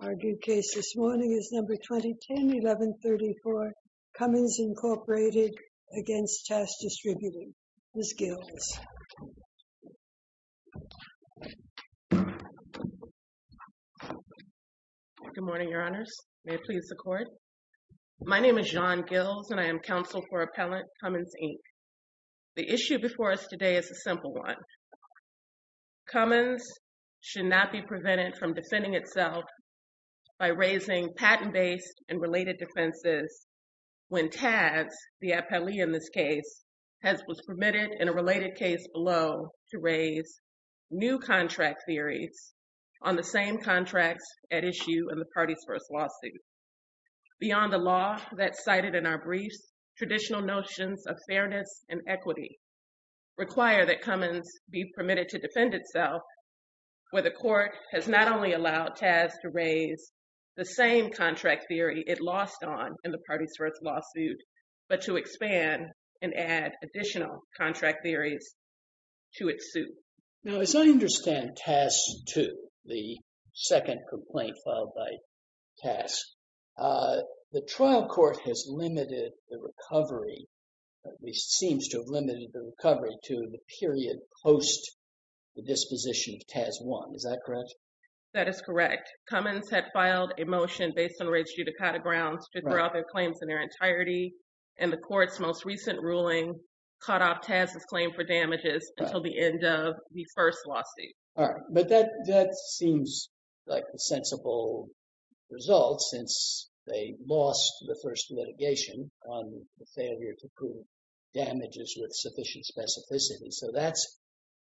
Our due case this morning is No. 2010-1134, Cummins, Inc. v. TAS DISTRIBUTING. Ms. Gills. Good morning, Your Honors. May it please the Court. My name is John Gills and I am counsel for Appellant Cummins, Inc. The issue before us today is a simple one. Cummins should not be prevented from defending itself by raising patent-based and related defenses when TAS, the appellee in this case, was permitted in a related case below to raise new contract theories on the same contracts at issue in the party's first lawsuit. Beyond the law that's cited in our briefs, traditional notions of fairness and equity require that Cummins be permitted to defend itself where the Court has not only allowed TAS to raise the same contract theory it lost on in the party's first lawsuit, but to expand and add additional contract theories to its suit. Now, as I understand TAS 2, the second complaint filed by TAS, the trial court has limited the recovery, at least seems to have limited the recovery, to the period post the disposition of TAS 1. Is that correct? That is correct. Cummins had filed a motion based on raised judicata grounds to throw out their claims in their entirety, and the Court's most recent ruling cut off TAS's claim for damages until the end of the first lawsuit. All right. But that seems like a sensible result since they lost the first litigation on the failure to prove damages with sufficient specificity. So, that's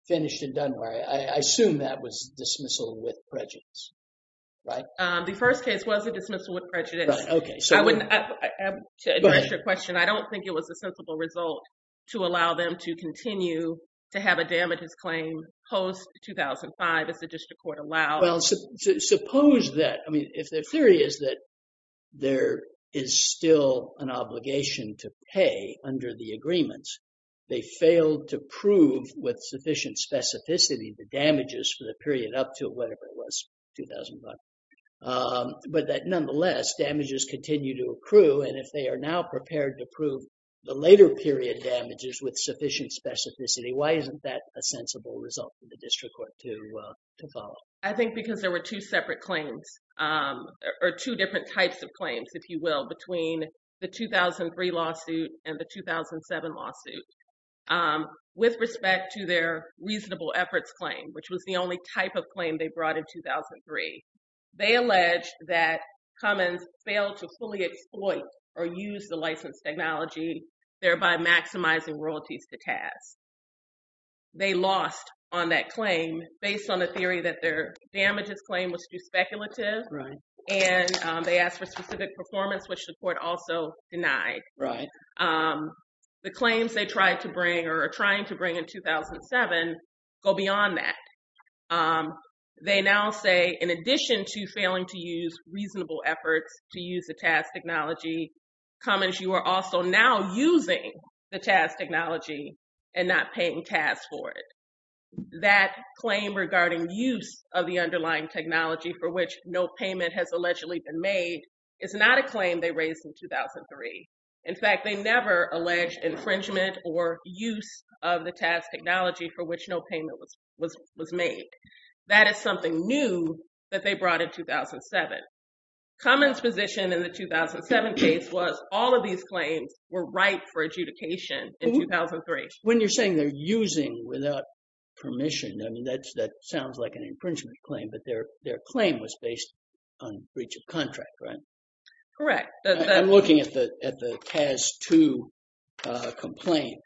finished and done. I assume that was dismissal with prejudice, right? The first case was a dismissal with prejudice. To address your question, I don't think it was a sensible result to allow them to continue to have a damages claim post 2005 as the district court allowed. Well, suppose that, I mean, if their theory is that there is still an obligation to pay under the agreements, they failed to prove with sufficient specificity the damages for the period up to whatever it was, 2005. But that nonetheless, damages continue to accrue, and if they are now prepared to prove the later period damages with sufficient specificity, why isn't that a sensible result for the district court to follow? I think because there were two separate claims, or two different types of claims, if you will, between the 2003 lawsuit and the 2007 lawsuit. With respect to their reasonable efforts claim, which was the only type of claim they brought in 2003, they alleged that Cummins failed to fully exploit or use the licensed technology, thereby maximizing royalties to TAS. They lost on that claim based on the theory that their damages claim was too speculative, and they asked for specific performance, which the court also denied. The claims they tried to bring or are trying to bring in 2007 go beyond that. They now say, in addition to failing to use reasonable efforts to use the TAS technology, Cummins, you are also now using the TAS technology and not paying TAS for it. That claim regarding use of the underlying technology for which no payment has allegedly been made is not a claim they raised in 2003. In fact, they never alleged infringement or use of the TAS technology for which no payment was made. That is something new that they brought in 2007. Cummins' position in the 2007 case was all of these claims were ripe for adjudication in 2003. When you're saying they're using without permission, I mean, that sounds like an infringement claim, but their claim was based on breach of contract, right? Correct. I'm looking at the TAS 2 complaint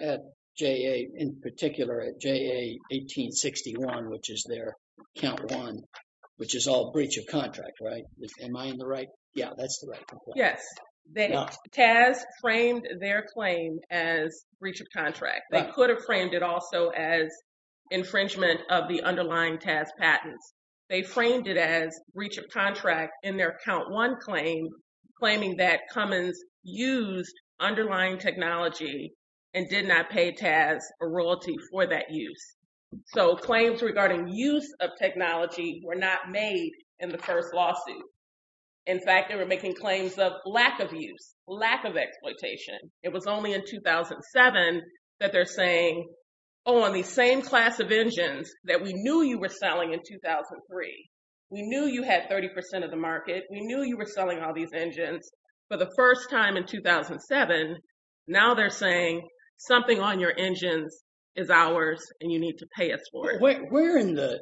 at JA, in particular at JA 1861, which is their count one, which is all breach of contract, right? Am I in the right? Yeah, that's the right complaint. Yes. TAS framed their claim as breach of contract. They could have framed it also as infringement of the underlying TAS patents. They framed it as breach of contract in their count one claim, claiming that Cummins used underlying technology and did not pay TAS or royalty for that use. So claims regarding use of technology were not made in the first lawsuit. In fact, they were making claims of lack of use, lack of exploitation. It was only in 2007 that they're saying, oh, on the same class of engines that we knew you were selling in 2003, we knew you had 30% of the market. We knew you were selling all these engines for the first time in 2007. Now they're saying something on your engines is ours and you need to pay us for it. Where in the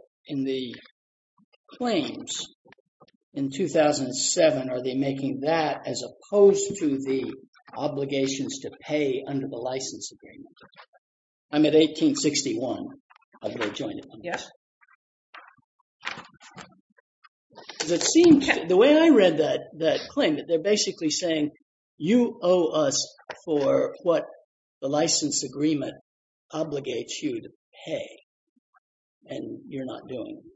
claims in 2007 are they making that as opposed to the obligations to pay under the license agreement? I'm at 1861, although I joined it. Yes. The way I read that claim, they're basically saying you owe us for what the license agreement obligates you to pay and you're not doing it.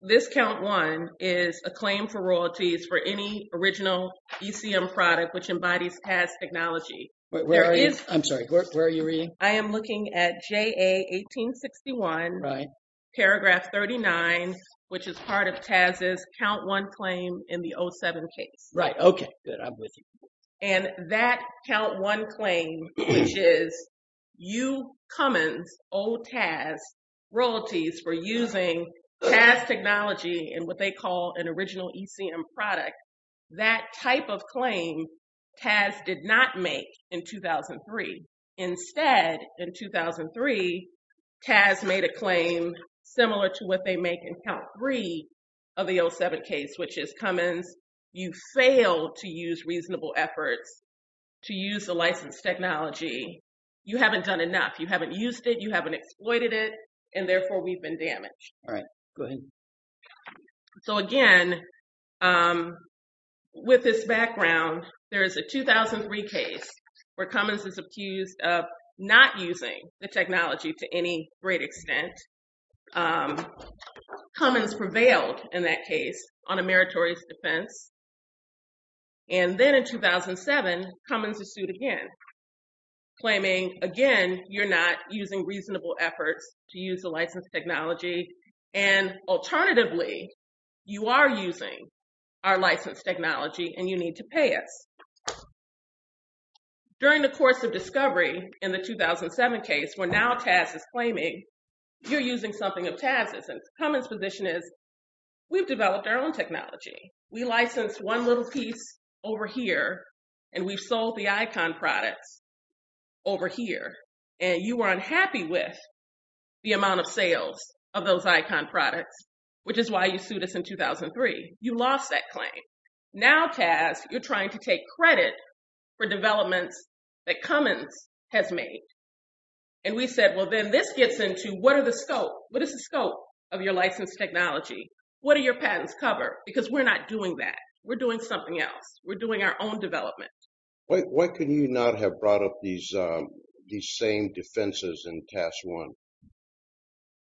This count one is a claim for royalties for any original ECM product which embodies TAS technology. I'm sorry, where are you reading? I am looking at JA 1861, paragraph 39, which is part of TAS's count one claim in the 07 case. Right. Okay. Good. I'm with you. That count one claim, which is you, Cummins, owe TAS royalties for using TAS technology in what they call an original ECM product. That type of claim TAS did not make in 2003. Instead, in 2003, TAS made a claim similar to what they make in count three of the 07 case, which is Cummins, you fail to use reasonable efforts to use the license technology. You haven't done enough. You haven't used it. You haven't exploited it, and therefore we've been damaged. So again, with this background, there is a 2003 case where Cummins is accused of not using the technology to any great extent. Cummins prevailed in that case on a meritorious defense. And then in 2007, Cummins is sued again, claiming, again, you're not using reasonable efforts to use the license technology, and alternatively, you are using our license technology and you need to pay us. During the course of discovery in the 2007 case, where now TAS is claiming you're using something of TAS's, and Cummins' position is, we've developed our own technology. We licensed one little piece over here, and we've sold the ICON products over here, and you were unhappy with the amount of sales of those ICON products, which is why you sued us in 2003. You lost that claim. Now, TAS, you're trying to take credit for developments that Cummins has made. And we said, well, then this gets into what are the scope? What is the scope of your licensed technology? What do your patents cover? Because we're not doing that. We're doing something else. We're doing our own development. Why could you not have brought up these same defenses in TAS 1?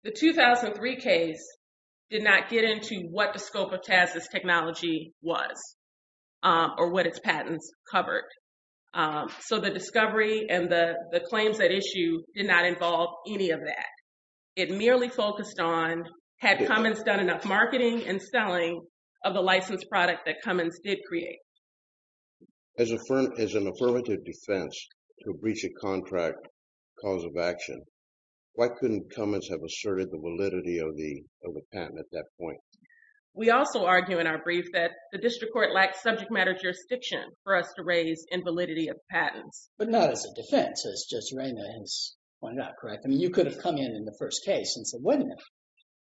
The 2003 case did not get into what the scope of TAS's technology was, or what its patents covered. So the discovery and the claims at issue did not involve any of that. It merely focused on, had Cummins done enough marketing and selling of the licensed product that Cummins did create? As an affirmative defense to breach a contract cause of action, why couldn't Cummins have asserted the validity of the patent at that point? We also argue in our brief that the district court lacked subject matter jurisdiction for us to raise invalidity of patents. But not as a defense, as Judge Reyna has pointed out, correct? I mean, you could have come in in the first case and said, wait a minute,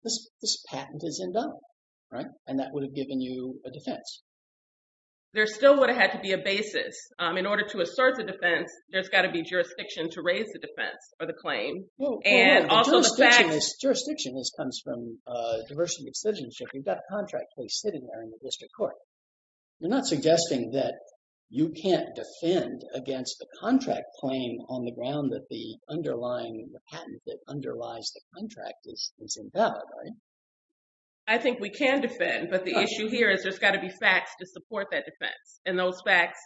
this patent is in doubt, right? And that would have given you a defense. There still would have had to be a basis. In order to assert the defense, there's got to be jurisdiction to raise the defense or the claim. Jurisdiction comes from diversity of citizenship. You've got a contract case sitting there in the district court. You're not suggesting that you can't defend against the contract claim on the ground that the underlying patent that underlies the contract is invalid, right? I think we can defend, but the issue here is there's got to be facts to support that defense. And those facts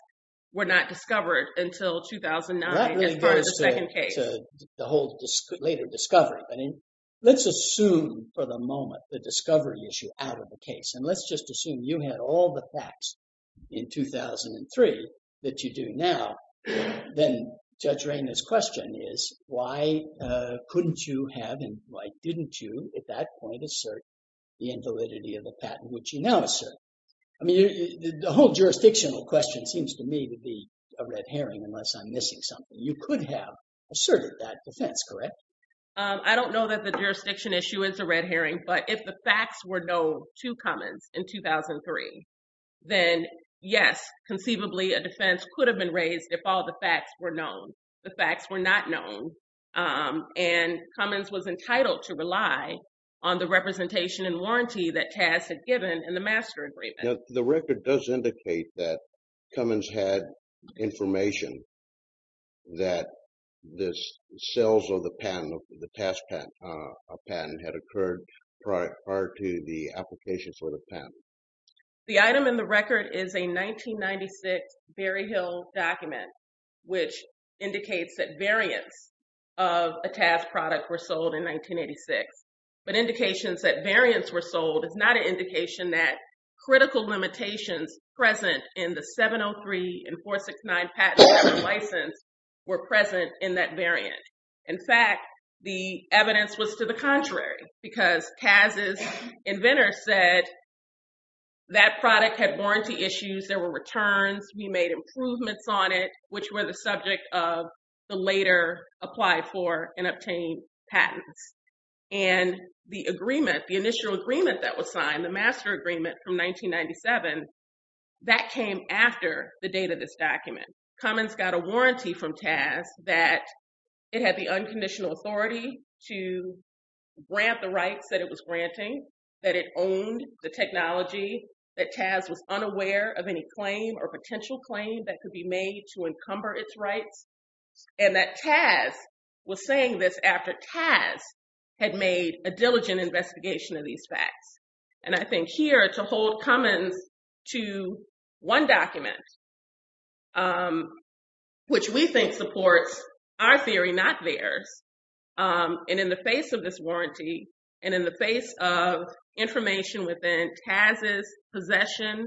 were not discovered until 2009 as part of the second case. That really goes to the whole later discovery. I mean, let's assume for the moment the discovery issue out of the case. And let's just assume you had all the facts in 2003 that you do now, then Judge Reyna's question is, why couldn't you have and why didn't you at that point assert the invalidity of the patent which you now assert? I mean, the whole jurisdictional question seems to me to be a red herring unless I'm missing something. You could have asserted that defense, correct? I don't know that the jurisdiction issue is a red herring, but if the facts were known to Cummins in 2003, then yes, conceivably a defense could have been raised if all the facts were known. The facts were not known and Cummins was entitled to rely on the representation and warranty that TAS had given in the master agreement. The record does indicate that Cummins had information that the sales of the patent, the TAS patent, had occurred prior to the application for the patent. The item in the record is a 1996 Berry Hill document, which indicates that variants of a TAS product were sold in 1986. But indications that variants were sold is not an indication that critical limitations present in the 703 and 469 patent license were present in that variant. In fact, the evidence was to the contrary because TAS's inventor said that product had warranty issues, there were returns, we made improvements on it, which were the subject of the later applied for and obtained patents. And the agreement, the initial agreement that was signed, the master agreement from 1997, that came after the date of this document. Cummins got a warranty from TAS that it had the unconditional authority to grant the rights that it was granting, that it owned the technology, that TAS was unaware of any claim or potential claim that could be made to encumber its rights. And that TAS was saying this after TAS had made a diligent investigation of these facts. And I think here to hold Cummins to one document, which we think supports our theory, not theirs. And in the face of this warranty, and in the face of information within TAS's possession,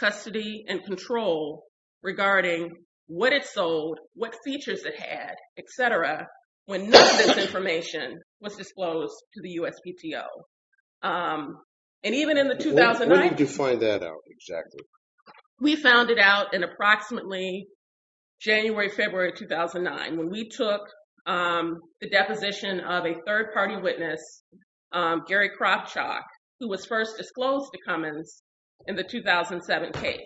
custody, and control regarding what it sold, what features it had, et cetera, when none of this information was disclosed to the USPTO. And even in the 2009... Where did you find that out exactly? We found it out in approximately January, February 2009, when we took the deposition of a third party witness, Gary Kropchak, who was first disclosed to Cummins in the 2007 case.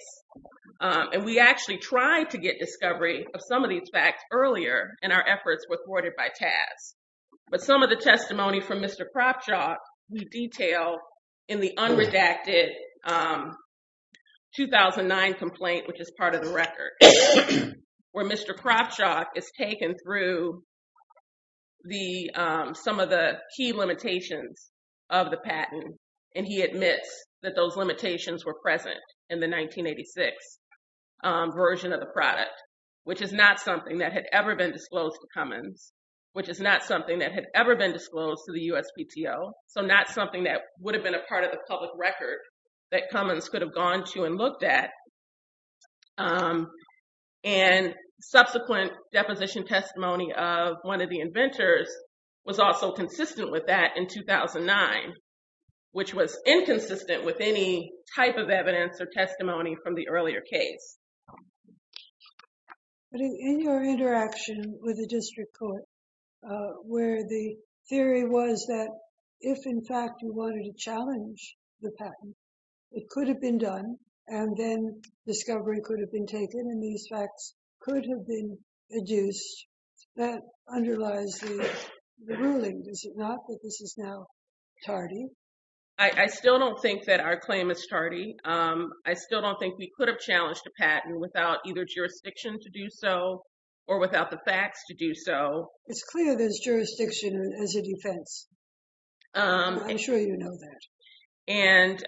And we actually tried to get discovery of some of these facts earlier, and our efforts were thwarted by TAS. But some of the testimony from Mr. Kropchak, we detail in the unredacted 2009 complaint, which is part of the record. Where Mr. Kropchak is taken through some of the key limitations of the patent, and he admits that those limitations were present in the 1986 version of the product. Which is not something that had ever been disclosed to Cummins, which is not something that had ever been disclosed to the USPTO. So not something that would have been a part of the public record that Cummins could have gone to and looked at. And subsequent deposition testimony of one of the inventors was also consistent with that in 2009, which was inconsistent with any type of evidence or testimony from the earlier case. But in your interaction with the district court, where the theory was that if in fact you wanted to challenge the patent, it could have been done. And then discovery could have been taken and these facts could have been adduced. That underlies the ruling, is it not, that this is now tardy? I still don't think that our claim is tardy. I still don't think we could have challenged a patent without either jurisdiction to do so, or without the facts to do so. It's clear there's jurisdiction as a defense. I'm sure you know that.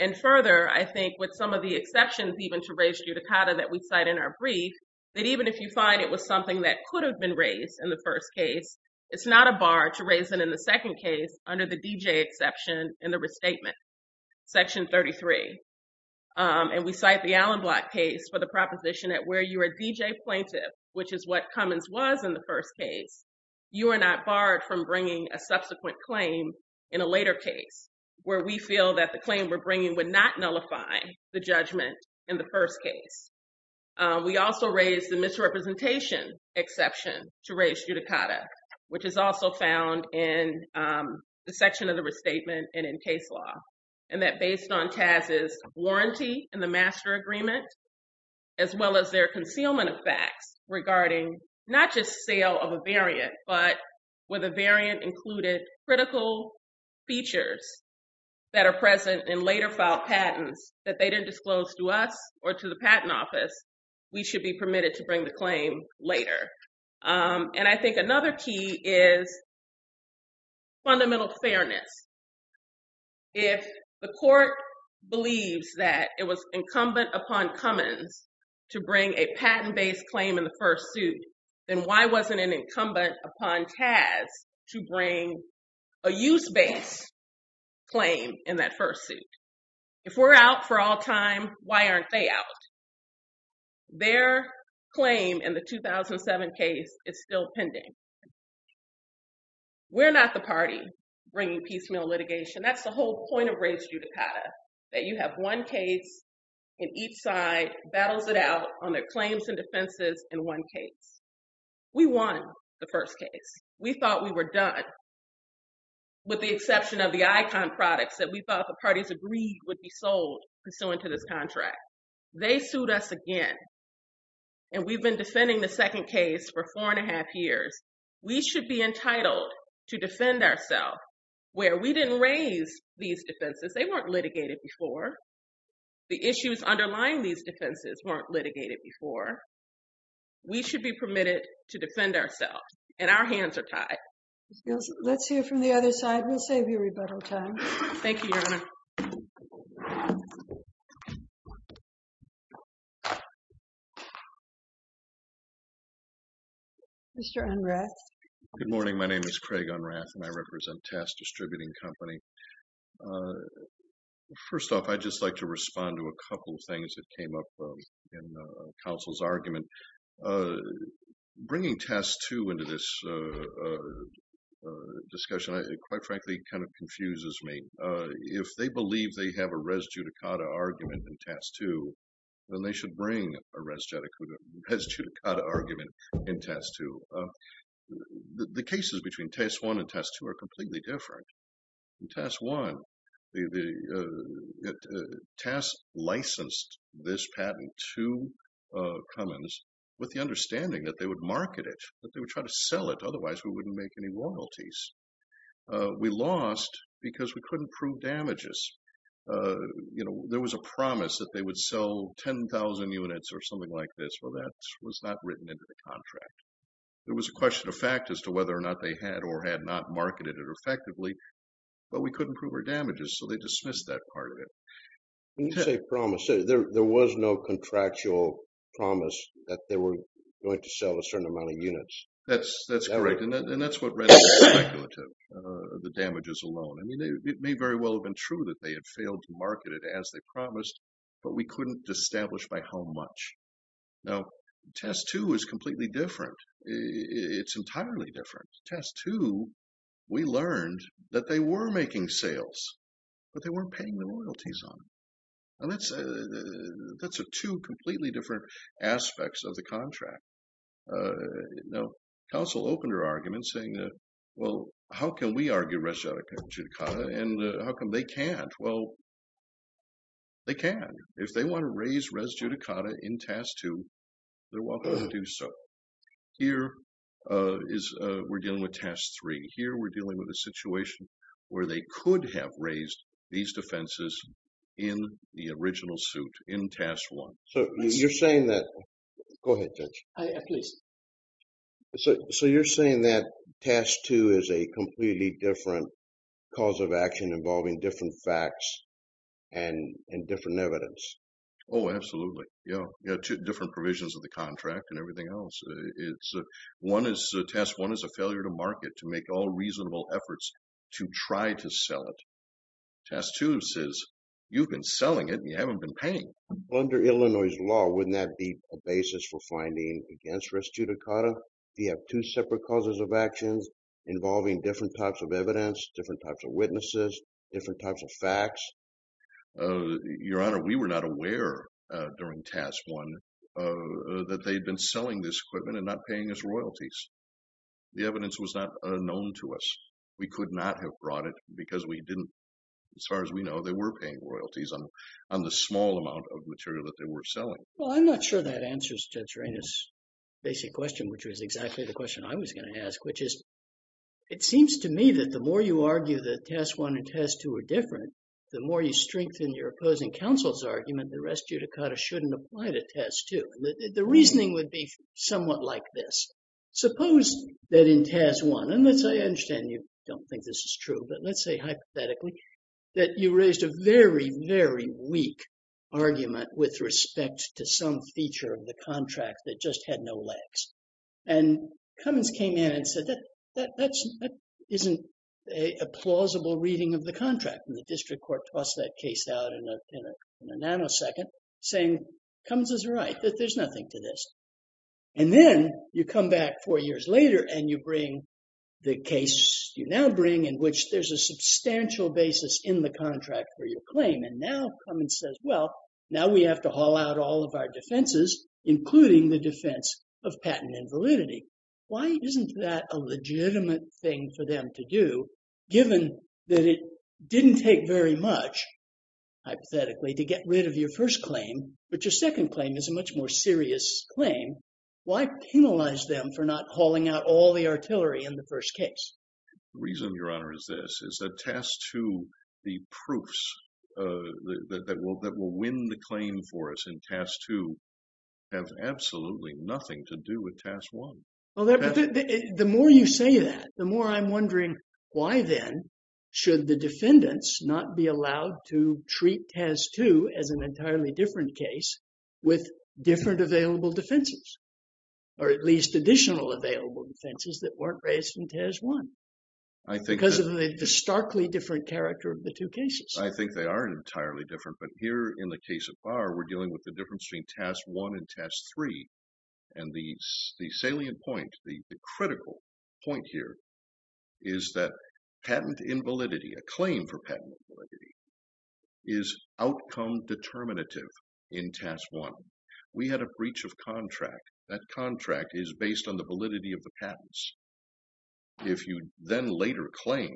And further, I think with some of the exceptions even to raised judicata that we cite in our brief, that even if you find it was something that could have been raised in the first case, it's not a bar to raise it in the second case under the D.J. exception in the restatement. Section 33. And we cite the Allen Block case for the proposition that where you are a D.J. plaintiff, which is what Cummins was in the first case, you are not barred from bringing a subsequent claim in a later case, where we feel that the claim we're bringing would not nullify the judgment in the first case. We also raised the misrepresentation exception to raised judicata, which is also found in the section of the restatement and in case law. And that based on TAS's warranty in the master agreement, as well as their concealment of facts regarding not just sale of a variant, but where the variant included critical features that are present in later filed patents that they didn't disclose to us or to the patent office, we should be permitted to bring the claim later. And I think another key is fundamental fairness. If the court believes that it was incumbent upon Cummins to bring a patent-based claim in the first suit, then why wasn't it incumbent upon TAS to bring a use-based claim in that first suit? If we're out for all time, why aren't they out? Their claim in the 2007 case is still pending. We're not the party bringing piecemeal litigation. That's the whole point of raised judicata, that you have one case and each side battles it out on their claims and defenses in one case. We won the first case. We thought we were done, with the exception of the ICON products that we thought the parties agreed would be sold pursuant to this contract. They sued us again, and we've been defending the second case for four and a half years. We should be entitled to defend ourselves, where we didn't raise these defenses. They weren't litigated before. The issues underlying these defenses weren't litigated before. We should be permitted to defend ourselves, and our hands are tied. Let's hear from the other side. Thank you, Your Honor. Thank you. Mr. Unrath. Good morning. My name is Craig Unrath, and I represent Tass Distributing Company. First off, I'd just like to respond to a couple of things that came up in counsel's argument. Bringing Tass, too, into this discussion, quite frankly, kind of confuses me. If they believe they have a res judicata argument in Tass, too, then they should bring a res judicata argument in Tass, too. The cases between Tass I and Tass II are completely different. In Tass I, Tass licensed this patent to Cummins with the understanding that they would market it, that they would try to sell it, otherwise we wouldn't make any loyalties. We lost because we couldn't prove damages. You know, there was a promise that they would sell 10,000 units or something like this. Well, that was not written into the contract. There was a question of fact as to whether or not they had or had not marketed it effectively, but we couldn't prove our damages, so they dismissed that part of it. When you say promise, there was no contractual promise that they were going to sell a certain amount of units. That's correct, and that's what renders speculative, the damages alone. I mean, it may very well have been true that they had failed to market it as they promised, but we couldn't establish by how much. Now, Tass II is completely different. It's entirely different. Tass II, we learned that they were making sales, but they weren't paying the loyalties on it. And that's two completely different aspects of the contract. Now, counsel opened her argument saying that, well, how can we argue res judicata, and how come they can't? Well, they can. If they want to raise res judicata in Tass II, they're welcome to do so. Here, we're dealing with Tass III. Here, we're dealing with a situation where they could have raised these defenses in the original suit, in Tass I. So, you're saying that… Go ahead, Judge. So, you're saying that Tass II is a completely different cause of action involving different facts and different evidence? Oh, absolutely. Different provisions of the contract and everything else. Tass I is a failure to market, to make all reasonable efforts to try to sell it. Tass II says, you've been selling it and you haven't been paying. Under Illinois' law, wouldn't that be a basis for finding against res judicata? Do you have two separate causes of actions involving different types of evidence, different types of witnesses, different types of facts? Your Honor, we were not aware during Tass I that they'd been selling this equipment and not paying us royalties. The evidence was not known to us. We could not have brought it because we didn't… As far as we know, they were paying royalties on the small amount of material that they were selling. Well, I'm not sure that answers Judge Reina's basic question, which was exactly the question I was going to ask, which is… It seems to me that the more you argue that Tass I and Tass II are different, the more you strengthen your opposing counsel's argument, the res judicata shouldn't apply to Tass II. The reasoning would be somewhat like this. Suppose that in Tass I, and I understand you don't think this is true, but let's say hypothetically, that you raised a very, very weak argument with respect to some feature of the contract that just had no legs. And Cummins came in and said, that isn't a plausible reading of the contract. And the district court tossed that case out in a nanosecond, saying, Cummins is right, that there's nothing to this. And then you come back four years later and you bring the case you now bring in which there's a substantial basis in the contract for your claim. And now Cummins says, well, now we have to haul out all of our defenses, including the defense of patent invalidity. Why isn't that a legitimate thing for them to do, given that it didn't take very much, hypothetically, to get rid of your first claim, but your second claim is a much more serious claim? Why penalize them for not hauling out all the artillery in the first case? The reason, Your Honor, is this, is that Tass II, the proofs that will win the claim for us in Tass II have absolutely nothing to do with Tass I. Well, the more you say that, the more I'm wondering, why then should the defendants not be allowed to treat Tass II as an entirely different case with different available defenses? Or at least additional available defenses that weren't raised in Tass I? Because of the starkly different character of the two cases. I think they are entirely different, but here in the case of Barr, we're dealing with the difference between Tass I and Tass III. And the salient point, the critical point here, is that patent invalidity, a claim for patent invalidity, is outcome determinative in Tass I. We had a breach of contract. That contract is based on the validity of the patents. If you then later claim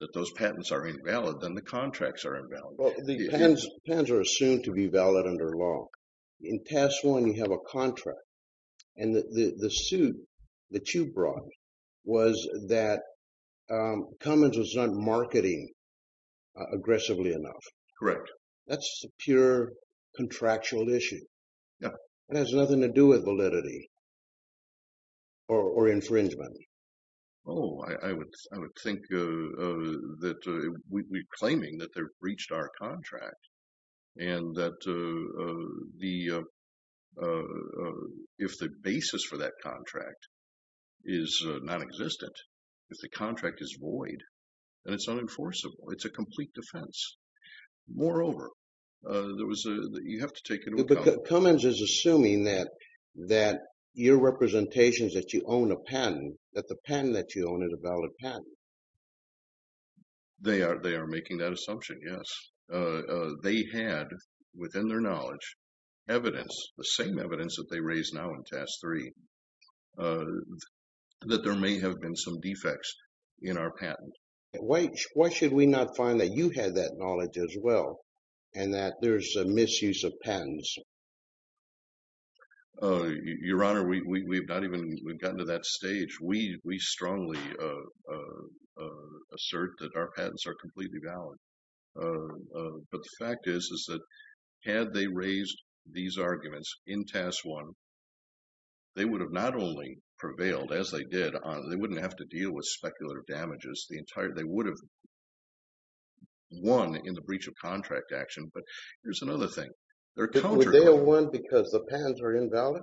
that those patents are invalid, then the contracts are invalid. Well, the patents are assumed to be valid under law. In Tass I, you have a contract. And the suit that you brought was that Cummins was not marketing aggressively enough. Correct. That's a pure contractual issue. It has nothing to do with validity or infringement. Oh, I would think that we're claiming that they've breached our contract. And that if the basis for that contract is nonexistent, if the contract is void, then it's unenforceable. It's a complete defense. Moreover, you have to take into account... Cummins is assuming that your representation is that you own a patent, that the patent that you own is a valid patent. They are making that assumption, yes. They had, within their knowledge, evidence, the same evidence that they raise now in Tass III, that there may have been some defects in our patent. Why should we not find that you had that knowledge as well, and that there's a misuse of patents? Your Honor, we've gotten to that stage. We strongly assert that our patents are completely valid. But the fact is, is that had they raised these arguments in Tass I, they would have not only prevailed, as they did, they wouldn't have to deal with speculative damages. They would have won in the breach of contract action. But here's another thing. Would they have won because the patents are invalid?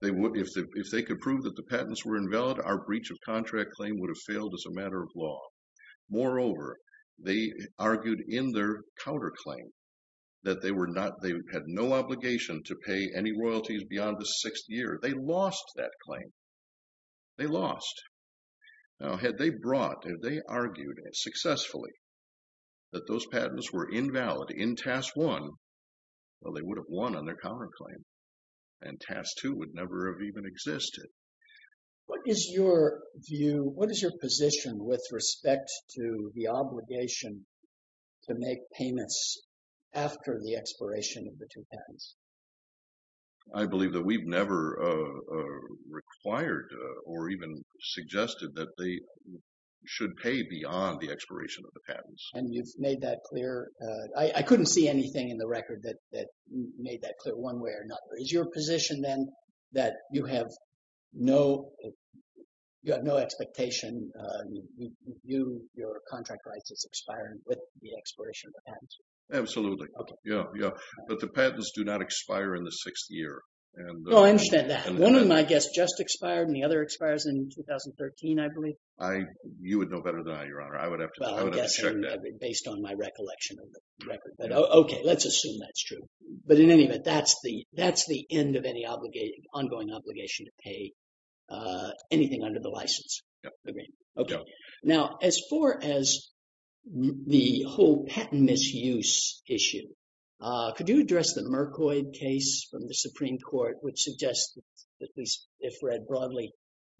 If they could prove that the patents were invalid, our breach of contract claim would have failed as a matter of law. Moreover, they argued in their counterclaim that they had no obligation to pay any royalties beyond the sixth year. They lost that claim. They lost. Now, had they brought, had they argued successfully that those patents were invalid in Tass I, well, they would have won on their counterclaim. And Tass II would never have even existed. What is your view, what is your position with respect to the obligation to make payments after the expiration of the two patents? I believe that we've never required or even suggested that they should pay beyond the expiration of the patents. And you've made that clear. I couldn't see anything in the record that made that clear one way or another. Is your position then that you have no, you have no expectation, you, your contract rights is expiring with the expiration of the patents? Absolutely. Yeah, yeah. But the patents do not expire in the sixth year. Well, I understand that. One of my guests just expired and the other expires in 2013, I believe. I, you would know better than I, Your Honor. I would have to, I would have to check that. Based on my recollection of the record. But okay, let's assume that's true. But in any event, that's the, that's the end of any obligation, ongoing obligation to pay anything under the license agreement. Okay. Now, as far as the whole patent misuse issue, could you address the Mercoid case from the Supreme Court, which suggests that at least if read broadly,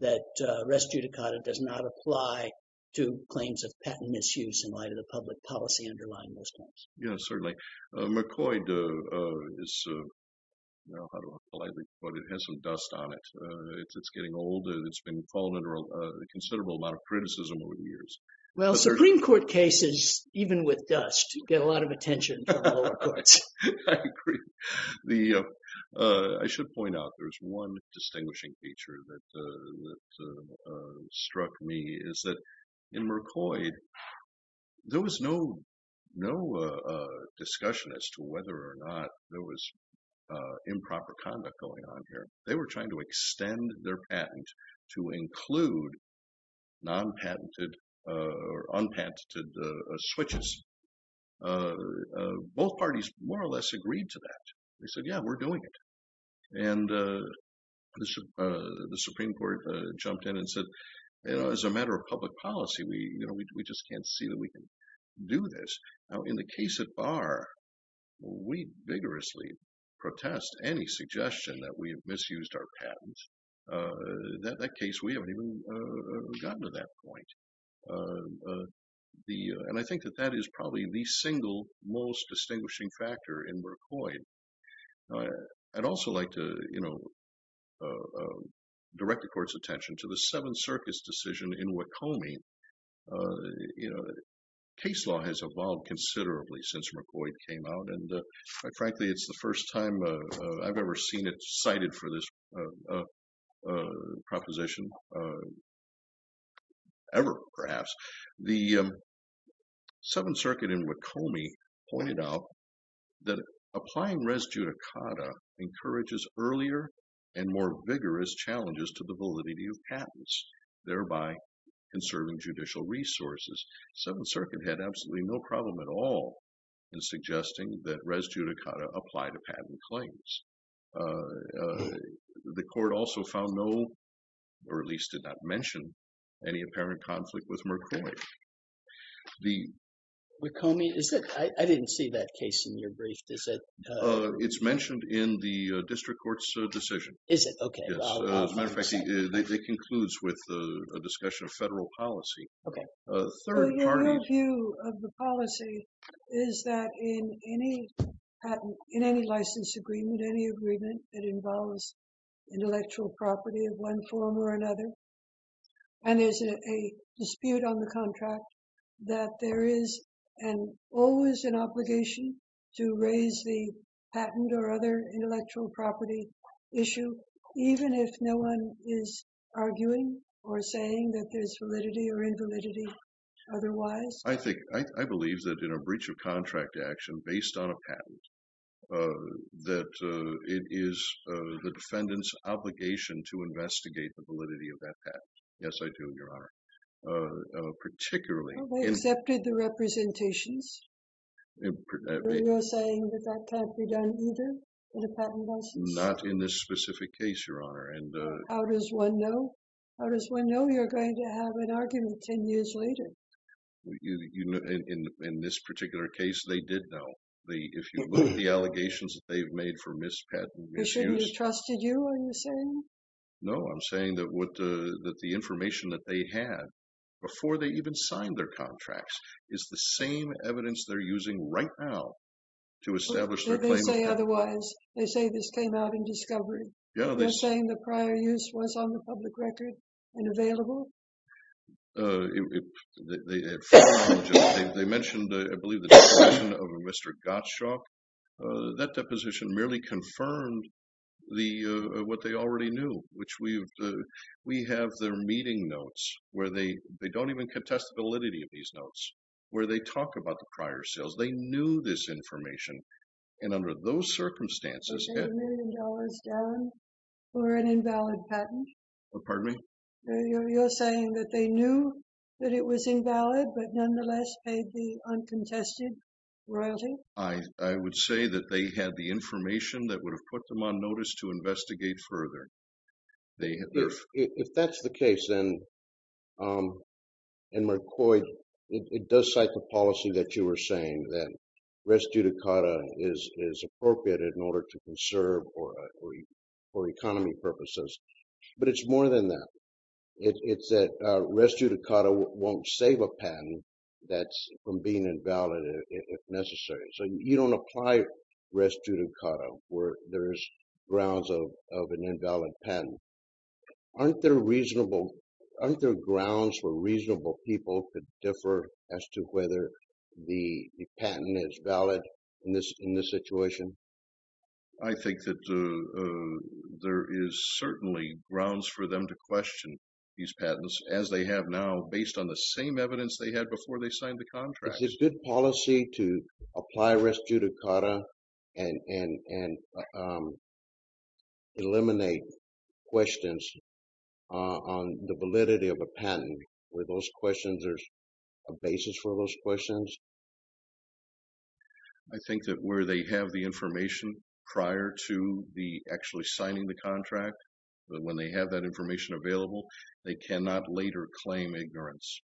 that res judicata does not apply to claims of patent misuse in light of the public policy underlying those claims? Yes, certainly. Mercoid is, how do I politely put it, it has some dust on it. It's getting older. It's been falling under a considerable amount of criticism over the years. Well, Supreme Court cases, even with dust, get a lot of attention from the lower courts. I agree. The, I should point out there's one distinguishing feature that struck me is that in Mercoid, there was no discussion as to whether or not there was improper conduct going on here. They were trying to extend their patent to include non-patented or unpatented switches. Both parties more or less agreed to that. They said, yeah, we're doing it. And the Supreme Court jumped in and said, you know, as a matter of public policy, we, you know, we just can't see that we can do this. Now, in the case at bar, we vigorously protest any suggestion that we have misused our patents. That case, we haven't even gotten to that point. The, and I think that that is probably the single most distinguishing factor in Mercoid. I'd also like to, you know, direct the court's attention to the Seventh Circus decision in Wacome. You know, case law has evolved considerably since Mercoid came out. And frankly, it's the first time I've ever seen it cited for this proposition ever, perhaps. The Seventh Circuit in Wacome pointed out that applying res judicata encourages earlier and more vigorous challenges to the validity of patents, thereby conserving judicial resources. Seventh Circuit had absolutely no problem at all in suggesting that res judicata apply to patent claims. The court also found no, or at least did not mention, any apparent conflict with Mercoid. Wacome, is it? I didn't see that case in your brief. Is it? It's mentioned in the district court's decision. Is it? Okay. As a matter of fact, it concludes with a discussion of federal policy. Okay. My view of the policy is that in any patent, in any license agreement, any agreement that involves intellectual property of one form or another, and there's a dispute on the contract, that there is always an obligation to raise the patent or other intellectual property issue, even if no one is arguing or saying that there's validity or invalidity otherwise. I think, I believe that in a breach of contract action based on a patent, that it is the defendant's obligation to investigate the validity of that patent. Yes, I do, Your Honor. Particularly... Have they accepted the representations? You're saying that that can't be done either, that a patent license? Not in this specific case, Your Honor. How does one know? How does one know you're going to have an argument ten years later? In this particular case, they did know. If you look at the allegations that they've made for mispatent misuse... They shouldn't have trusted you, are you saying? No, I'm saying that the information that they had before they even signed their contracts is the same evidence they're using right now to establish their claim. They say otherwise. They say this came out in discovery. They're saying the prior use was on the public record and available? They mentioned, I believe, the deposition of Mr. Gottschalk. That deposition merely confirmed what they already knew, which we have their meeting notes where they don't even contest the validity of these notes, where they talk about the prior sales. They knew this information. And under those circumstances... Are they a million dollars down for an invalid patent? Pardon me? You're saying that they knew that it was invalid, but nonetheless paid the uncontested royalty? I would say that they had the information that would have put them on notice to investigate further. If that's the case, then... And, McCoy, it does cite the policy that you were saying that res judicata is appropriate in order to conserve for economy purposes. But it's more than that. It's that res judicata won't save a patent that's from being invalid if necessary. So you don't apply res judicata where there's grounds of an invalid patent. Aren't there grounds for reasonable people to differ as to whether the patent is valid in this situation? I think that there is certainly grounds for them to question these patents, as they have now, based on the same evidence they had before they signed the contract. Is it good policy to apply res judicata and eliminate questions on the validity of a patent, where there's a basis for those questions? I think that where they have the information prior to actually signing the contract, when they have that information available, they cannot later claim ignorance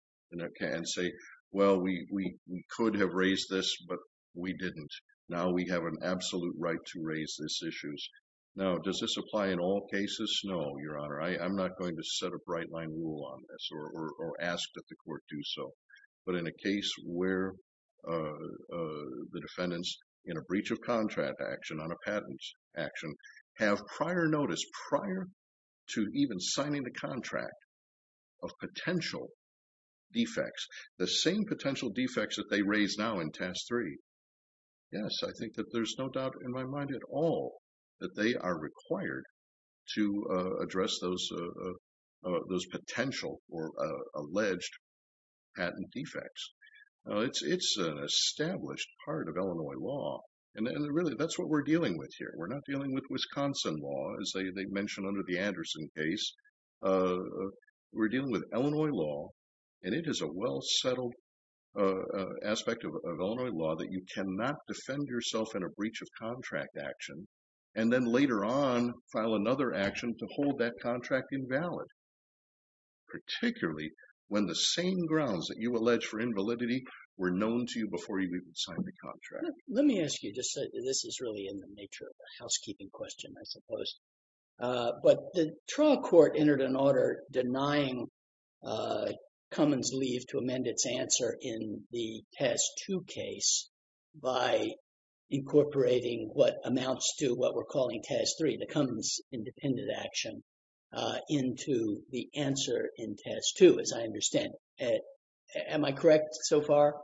and say, well, we could have raised this, but we didn't. Now we have an absolute right to raise these issues. Now, does this apply in all cases? No, Your Honor. I'm not going to set a bright-line rule on this or ask that the court do so. But in a case where the defendants, in a breach of contract action, on a patent action, have prior notice, prior to even signing the contract, of potential defects, the same potential defects that they raise now in Task 3, yes, I think that there's no doubt in my mind at all that they are required to address those potential or alleged patent defects. It's an established part of Illinois law. And really, that's what we're dealing with here. We're not dealing with Wisconsin law, as they mentioned under the Anderson case. We're dealing with Illinois law. And it is a well-settled aspect of Illinois law that you cannot defend yourself in a breach of contract action and then later on file another action to hold that contract invalid, particularly when the same grounds that you allege for invalidity were known to you before you even signed the contract. Let me ask you, this is really in the nature of a housekeeping question, I suppose. But the trial court entered an order denying Cummins' leave to amend its answer in the Task 2 case by incorporating what amounts to what we're calling Task 3, the Cummins' independent action, into the answer in Task 2, as I understand it. Am I correct so far?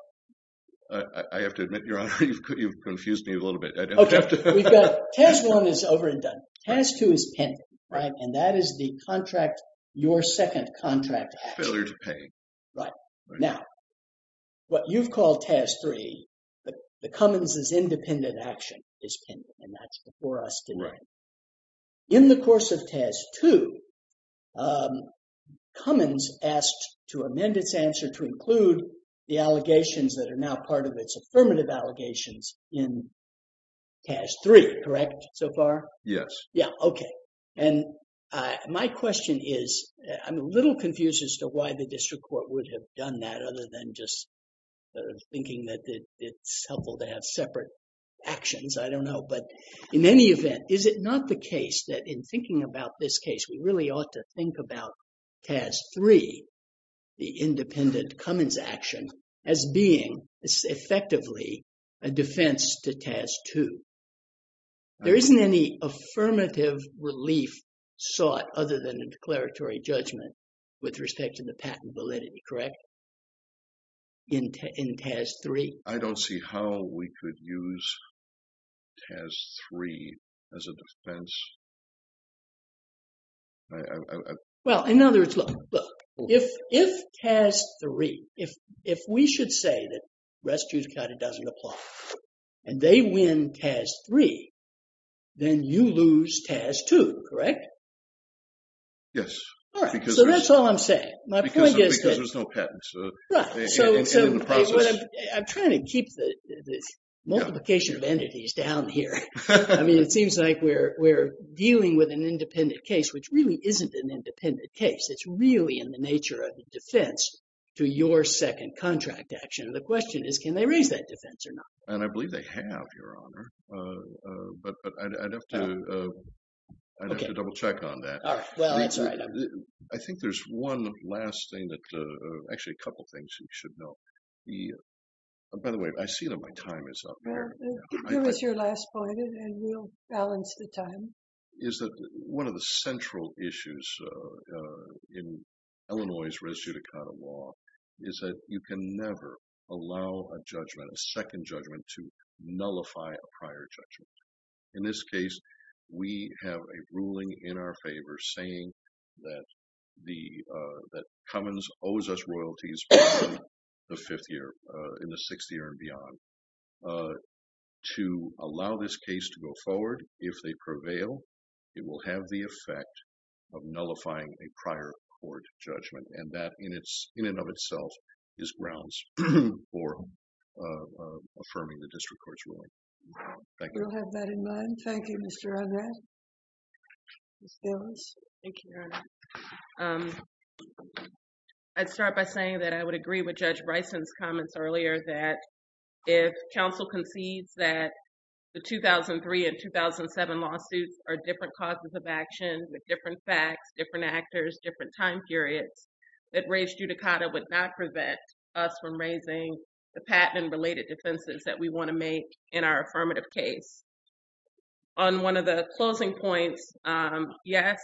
I have to admit, Your Honor, you've confused me a little bit. Task 1 is over and done. Task 2 is pending. And that is your second contract action. Failure to pay. Right. Now, what you've called Task 3, the Cummins' independent action, is pending. And that's before us today. In the course of Task 2, Cummins asked to amend its answer to include the allegations that are now part of its affirmative allegations in Task 3. Correct so far? Yes. Yeah, okay. And my question is, I'm a little confused as to why the district court would have done that other than just thinking that it's helpful to have separate actions, I don't know. But in any event, is it not the case that in thinking about this case, we really ought to think about Task 3, the independent Cummins' action, as being effectively a defense to Task 2? There isn't any affirmative relief sought other than a declaratory judgment with respect to the patent validity, correct, in Task 3? I don't see how we could use Task 3 as a defense. Well, in other words, look. If Task 3, if we should say that West Georgia County doesn't apply, and they win Task 3, then you lose Task 2, correct? Yes. All right. So that's all I'm saying. My point is that... Because there's no patents. Right. I'm trying to keep the multiplication of entities down here. I mean, it seems like we're dealing with an independent case, which really isn't an independent case. It's really in the nature of the defense to your second contract action. And the question is, can they raise that defense or not? And I believe they have, Your Honor. But I'd have to double check on that. All right. Well, that's all right. I think there's one last thing that, actually, a couple things you should know. By the way, I see that my time is up here. Well, give us your last point, and we'll balance the time. One of the central issues in Illinois' res judicata law is that you can never allow a judgment, a second judgment, to nullify a prior judgment. In this case, we have a ruling in our favor saying that Cummins owes us royalties in the fifth year, in the sixth year and beyond. To allow this case to go forward, if they prevail, it will have the effect of nullifying a prior court judgment. And that, in and of itself, is grounds for affirming the district court's ruling. We'll have that in mind. Thank you, Mr. Arnett. Ms. Davis? Thank you, Your Honor. I'd start by saying that I would agree with Judge Bryson's comments earlier, that if counsel concedes that the 2003 and 2007 lawsuits are different causes of action, with different facts, different actors, different time periods, that res judicata would not prevent us from raising the patent and related defenses that we want to make in our affirmative case. On one of the closing points, yes,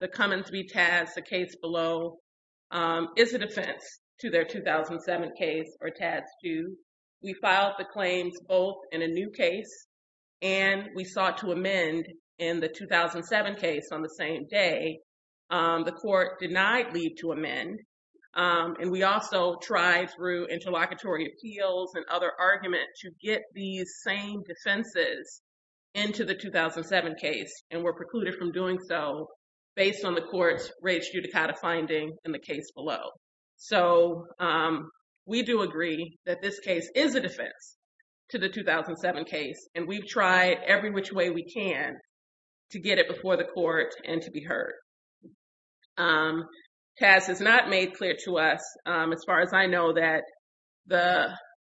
the Cummins v. Tadds, the case below, is a defense to their 2007 case, or Tadds 2. We filed the claims both in a new case and we sought to amend in the 2007 case on the same day. The court denied leave to amend. And we also tried through interlocutory appeals and other arguments to get these same defenses into the 2007 case and were precluded from doing so based on the court's res judicata finding in the case below. So we do agree that this case is a defense to the 2007 case, and we've tried every which way we can to get it before the court and to be heard. Tadds has not made clear to us, as far as I know, that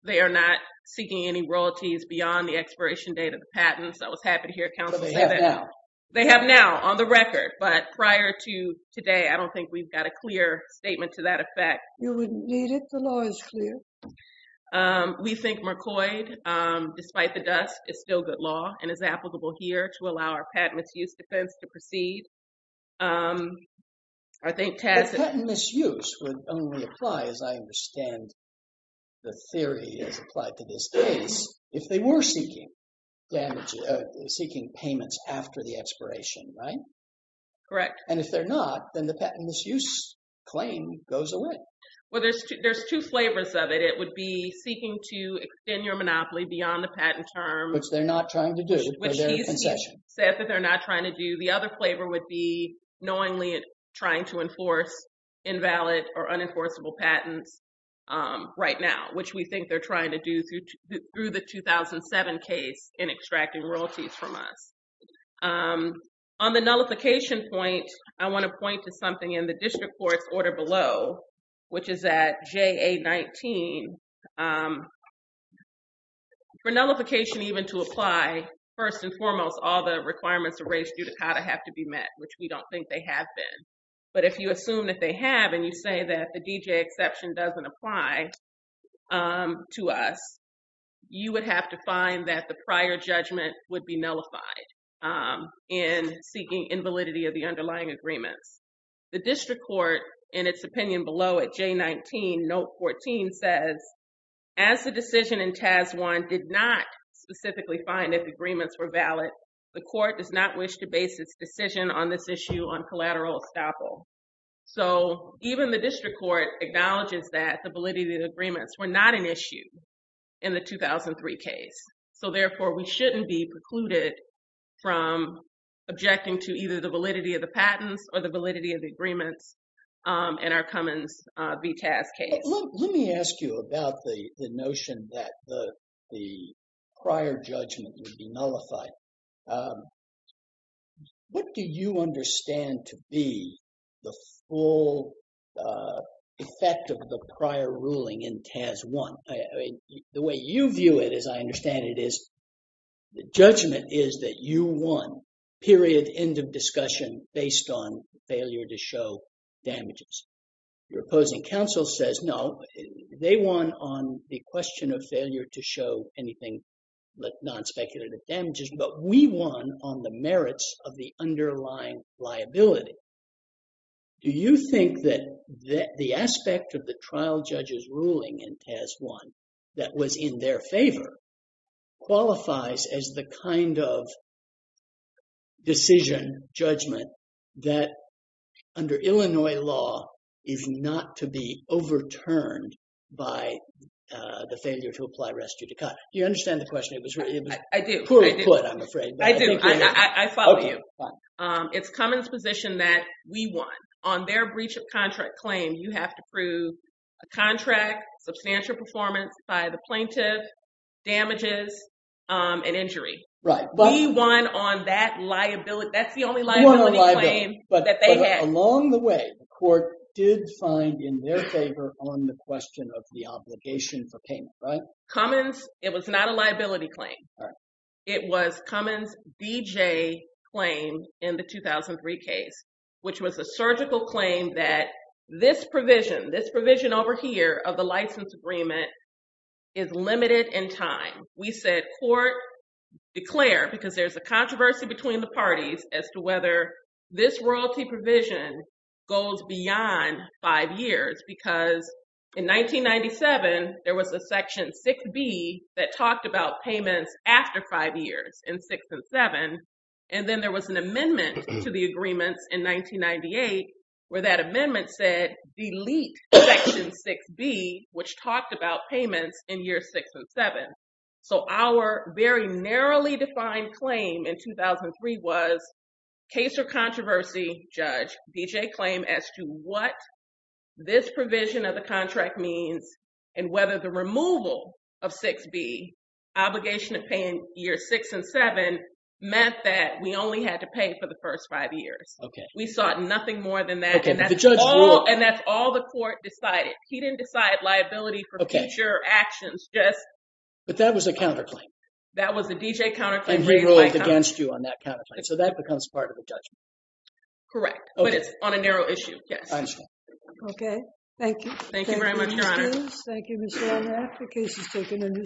they are not seeking any royalties beyond the expiration date of the patent, so I was happy to hear counsel say that. But they have now. On the record, but prior to today, I don't think we've got a clear statement to that effect. You wouldn't need it. The law is clear. We think McCoy, despite the dust, is still good law and is applicable here to allow our patent misuse defense to proceed. The patent misuse would only apply, as I understand the theory as applied to this case, if they were seeking payments after the expiration, right? Correct. And if they're not, then the patent misuse claim goes away. Well, there's two flavors of it. It would be seeking to extend your monopoly beyond the patent term. Which they're not trying to do for their concession. Sad that they're not trying to do. The other flavor would be knowingly trying to enforce invalid or unenforceable patents right now, which we think they're trying to do through the 2007 case in extracting royalties from us. On the nullification point, I want to point to something in the district court's order below, which is at JA-19. For nullification even to apply, first and foremost, all the requirements are raised due to how to have to be met, which we don't think they have been. But if you assume that they have and you say that the DJ exception doesn't apply to us, you would have to find that the prior judgment would be nullified in seeking invalidity of the underlying agreements. The district court, in its opinion below at JA-19, note 14 says, as the decision in TAS 1 did not specifically find that the agreements were valid, the court does not wish to base its decision on this issue on collateral estoppel. So, even the district court acknowledges that the validity of the agreements were not an issue in the 2003 case. So, therefore, we shouldn't be precluded from objecting to either the validity of the patents or the validity of the agreements in our Cummins v. TAS case. Let me ask you about the notion that the prior judgment would be nullified. What do you understand to be the full effect of the prior ruling in TAS 1? The way you view it, as I understand it, is the judgment is that you won, period, end of discussion based on failure to show damages. Your opposing counsel says, no, they won on the question of failure to show anything but non-speculative damages, but we won on the merits of the underlying liability. Do you think that the aspect of the trial judge's ruling in TAS 1 that was in their favor qualifies as the kind of decision judgment that, under Illinois law, is not to be overturned by the failure to apply res judicata? Do you understand the question? I do. Poorly put, I'm afraid. I do. I follow you. It's Cummins' position that we won. On their breach of contract claim, you have to prove a contract, substantial performance by the plaintiff, damages, and injury. Right. We won on that liability. That's the only liability claim that they had. But along the way, the court did find in their favor on the question of the obligation for payment, right? Cummins, it was not a liability claim. Right. It was Cummins' BJ claim in the 2003 case, which was a surgical claim that this provision, this provision over here of the license agreement, is limited in time. We said, court, declare, because there's a controversy between the parties as to whether this royalty provision goes beyond five years. Because in 1997, there was a section 6B that talked about payments after five years in 6 and 7. And then there was an amendment to the agreements in 1998 where that amendment said, delete section 6B, which talked about payments in years 6 and 7. So our very narrowly defined claim in 2003 was case or controversy, judge, BJ claim as to what this provision of the contract means and whether the removal of 6B, obligation of paying years 6 and 7, meant that we only had to pay for the first five years. Okay. We sought nothing more than that. Okay. But the judge ruled— And that's all the court decided. He didn't decide liability for future actions. Yes. But that was a counterclaim. That was a BJ counterclaim. And he ruled against you on that counterclaim. So that becomes part of the judgment. Correct. Okay. But it's on a narrow issue. Yes. Okay. Thank you. Thank you very much, Your Honor. Thank you, Ms. Jones. Thank you, Mr. O'Rourke. The case has taken a new submission.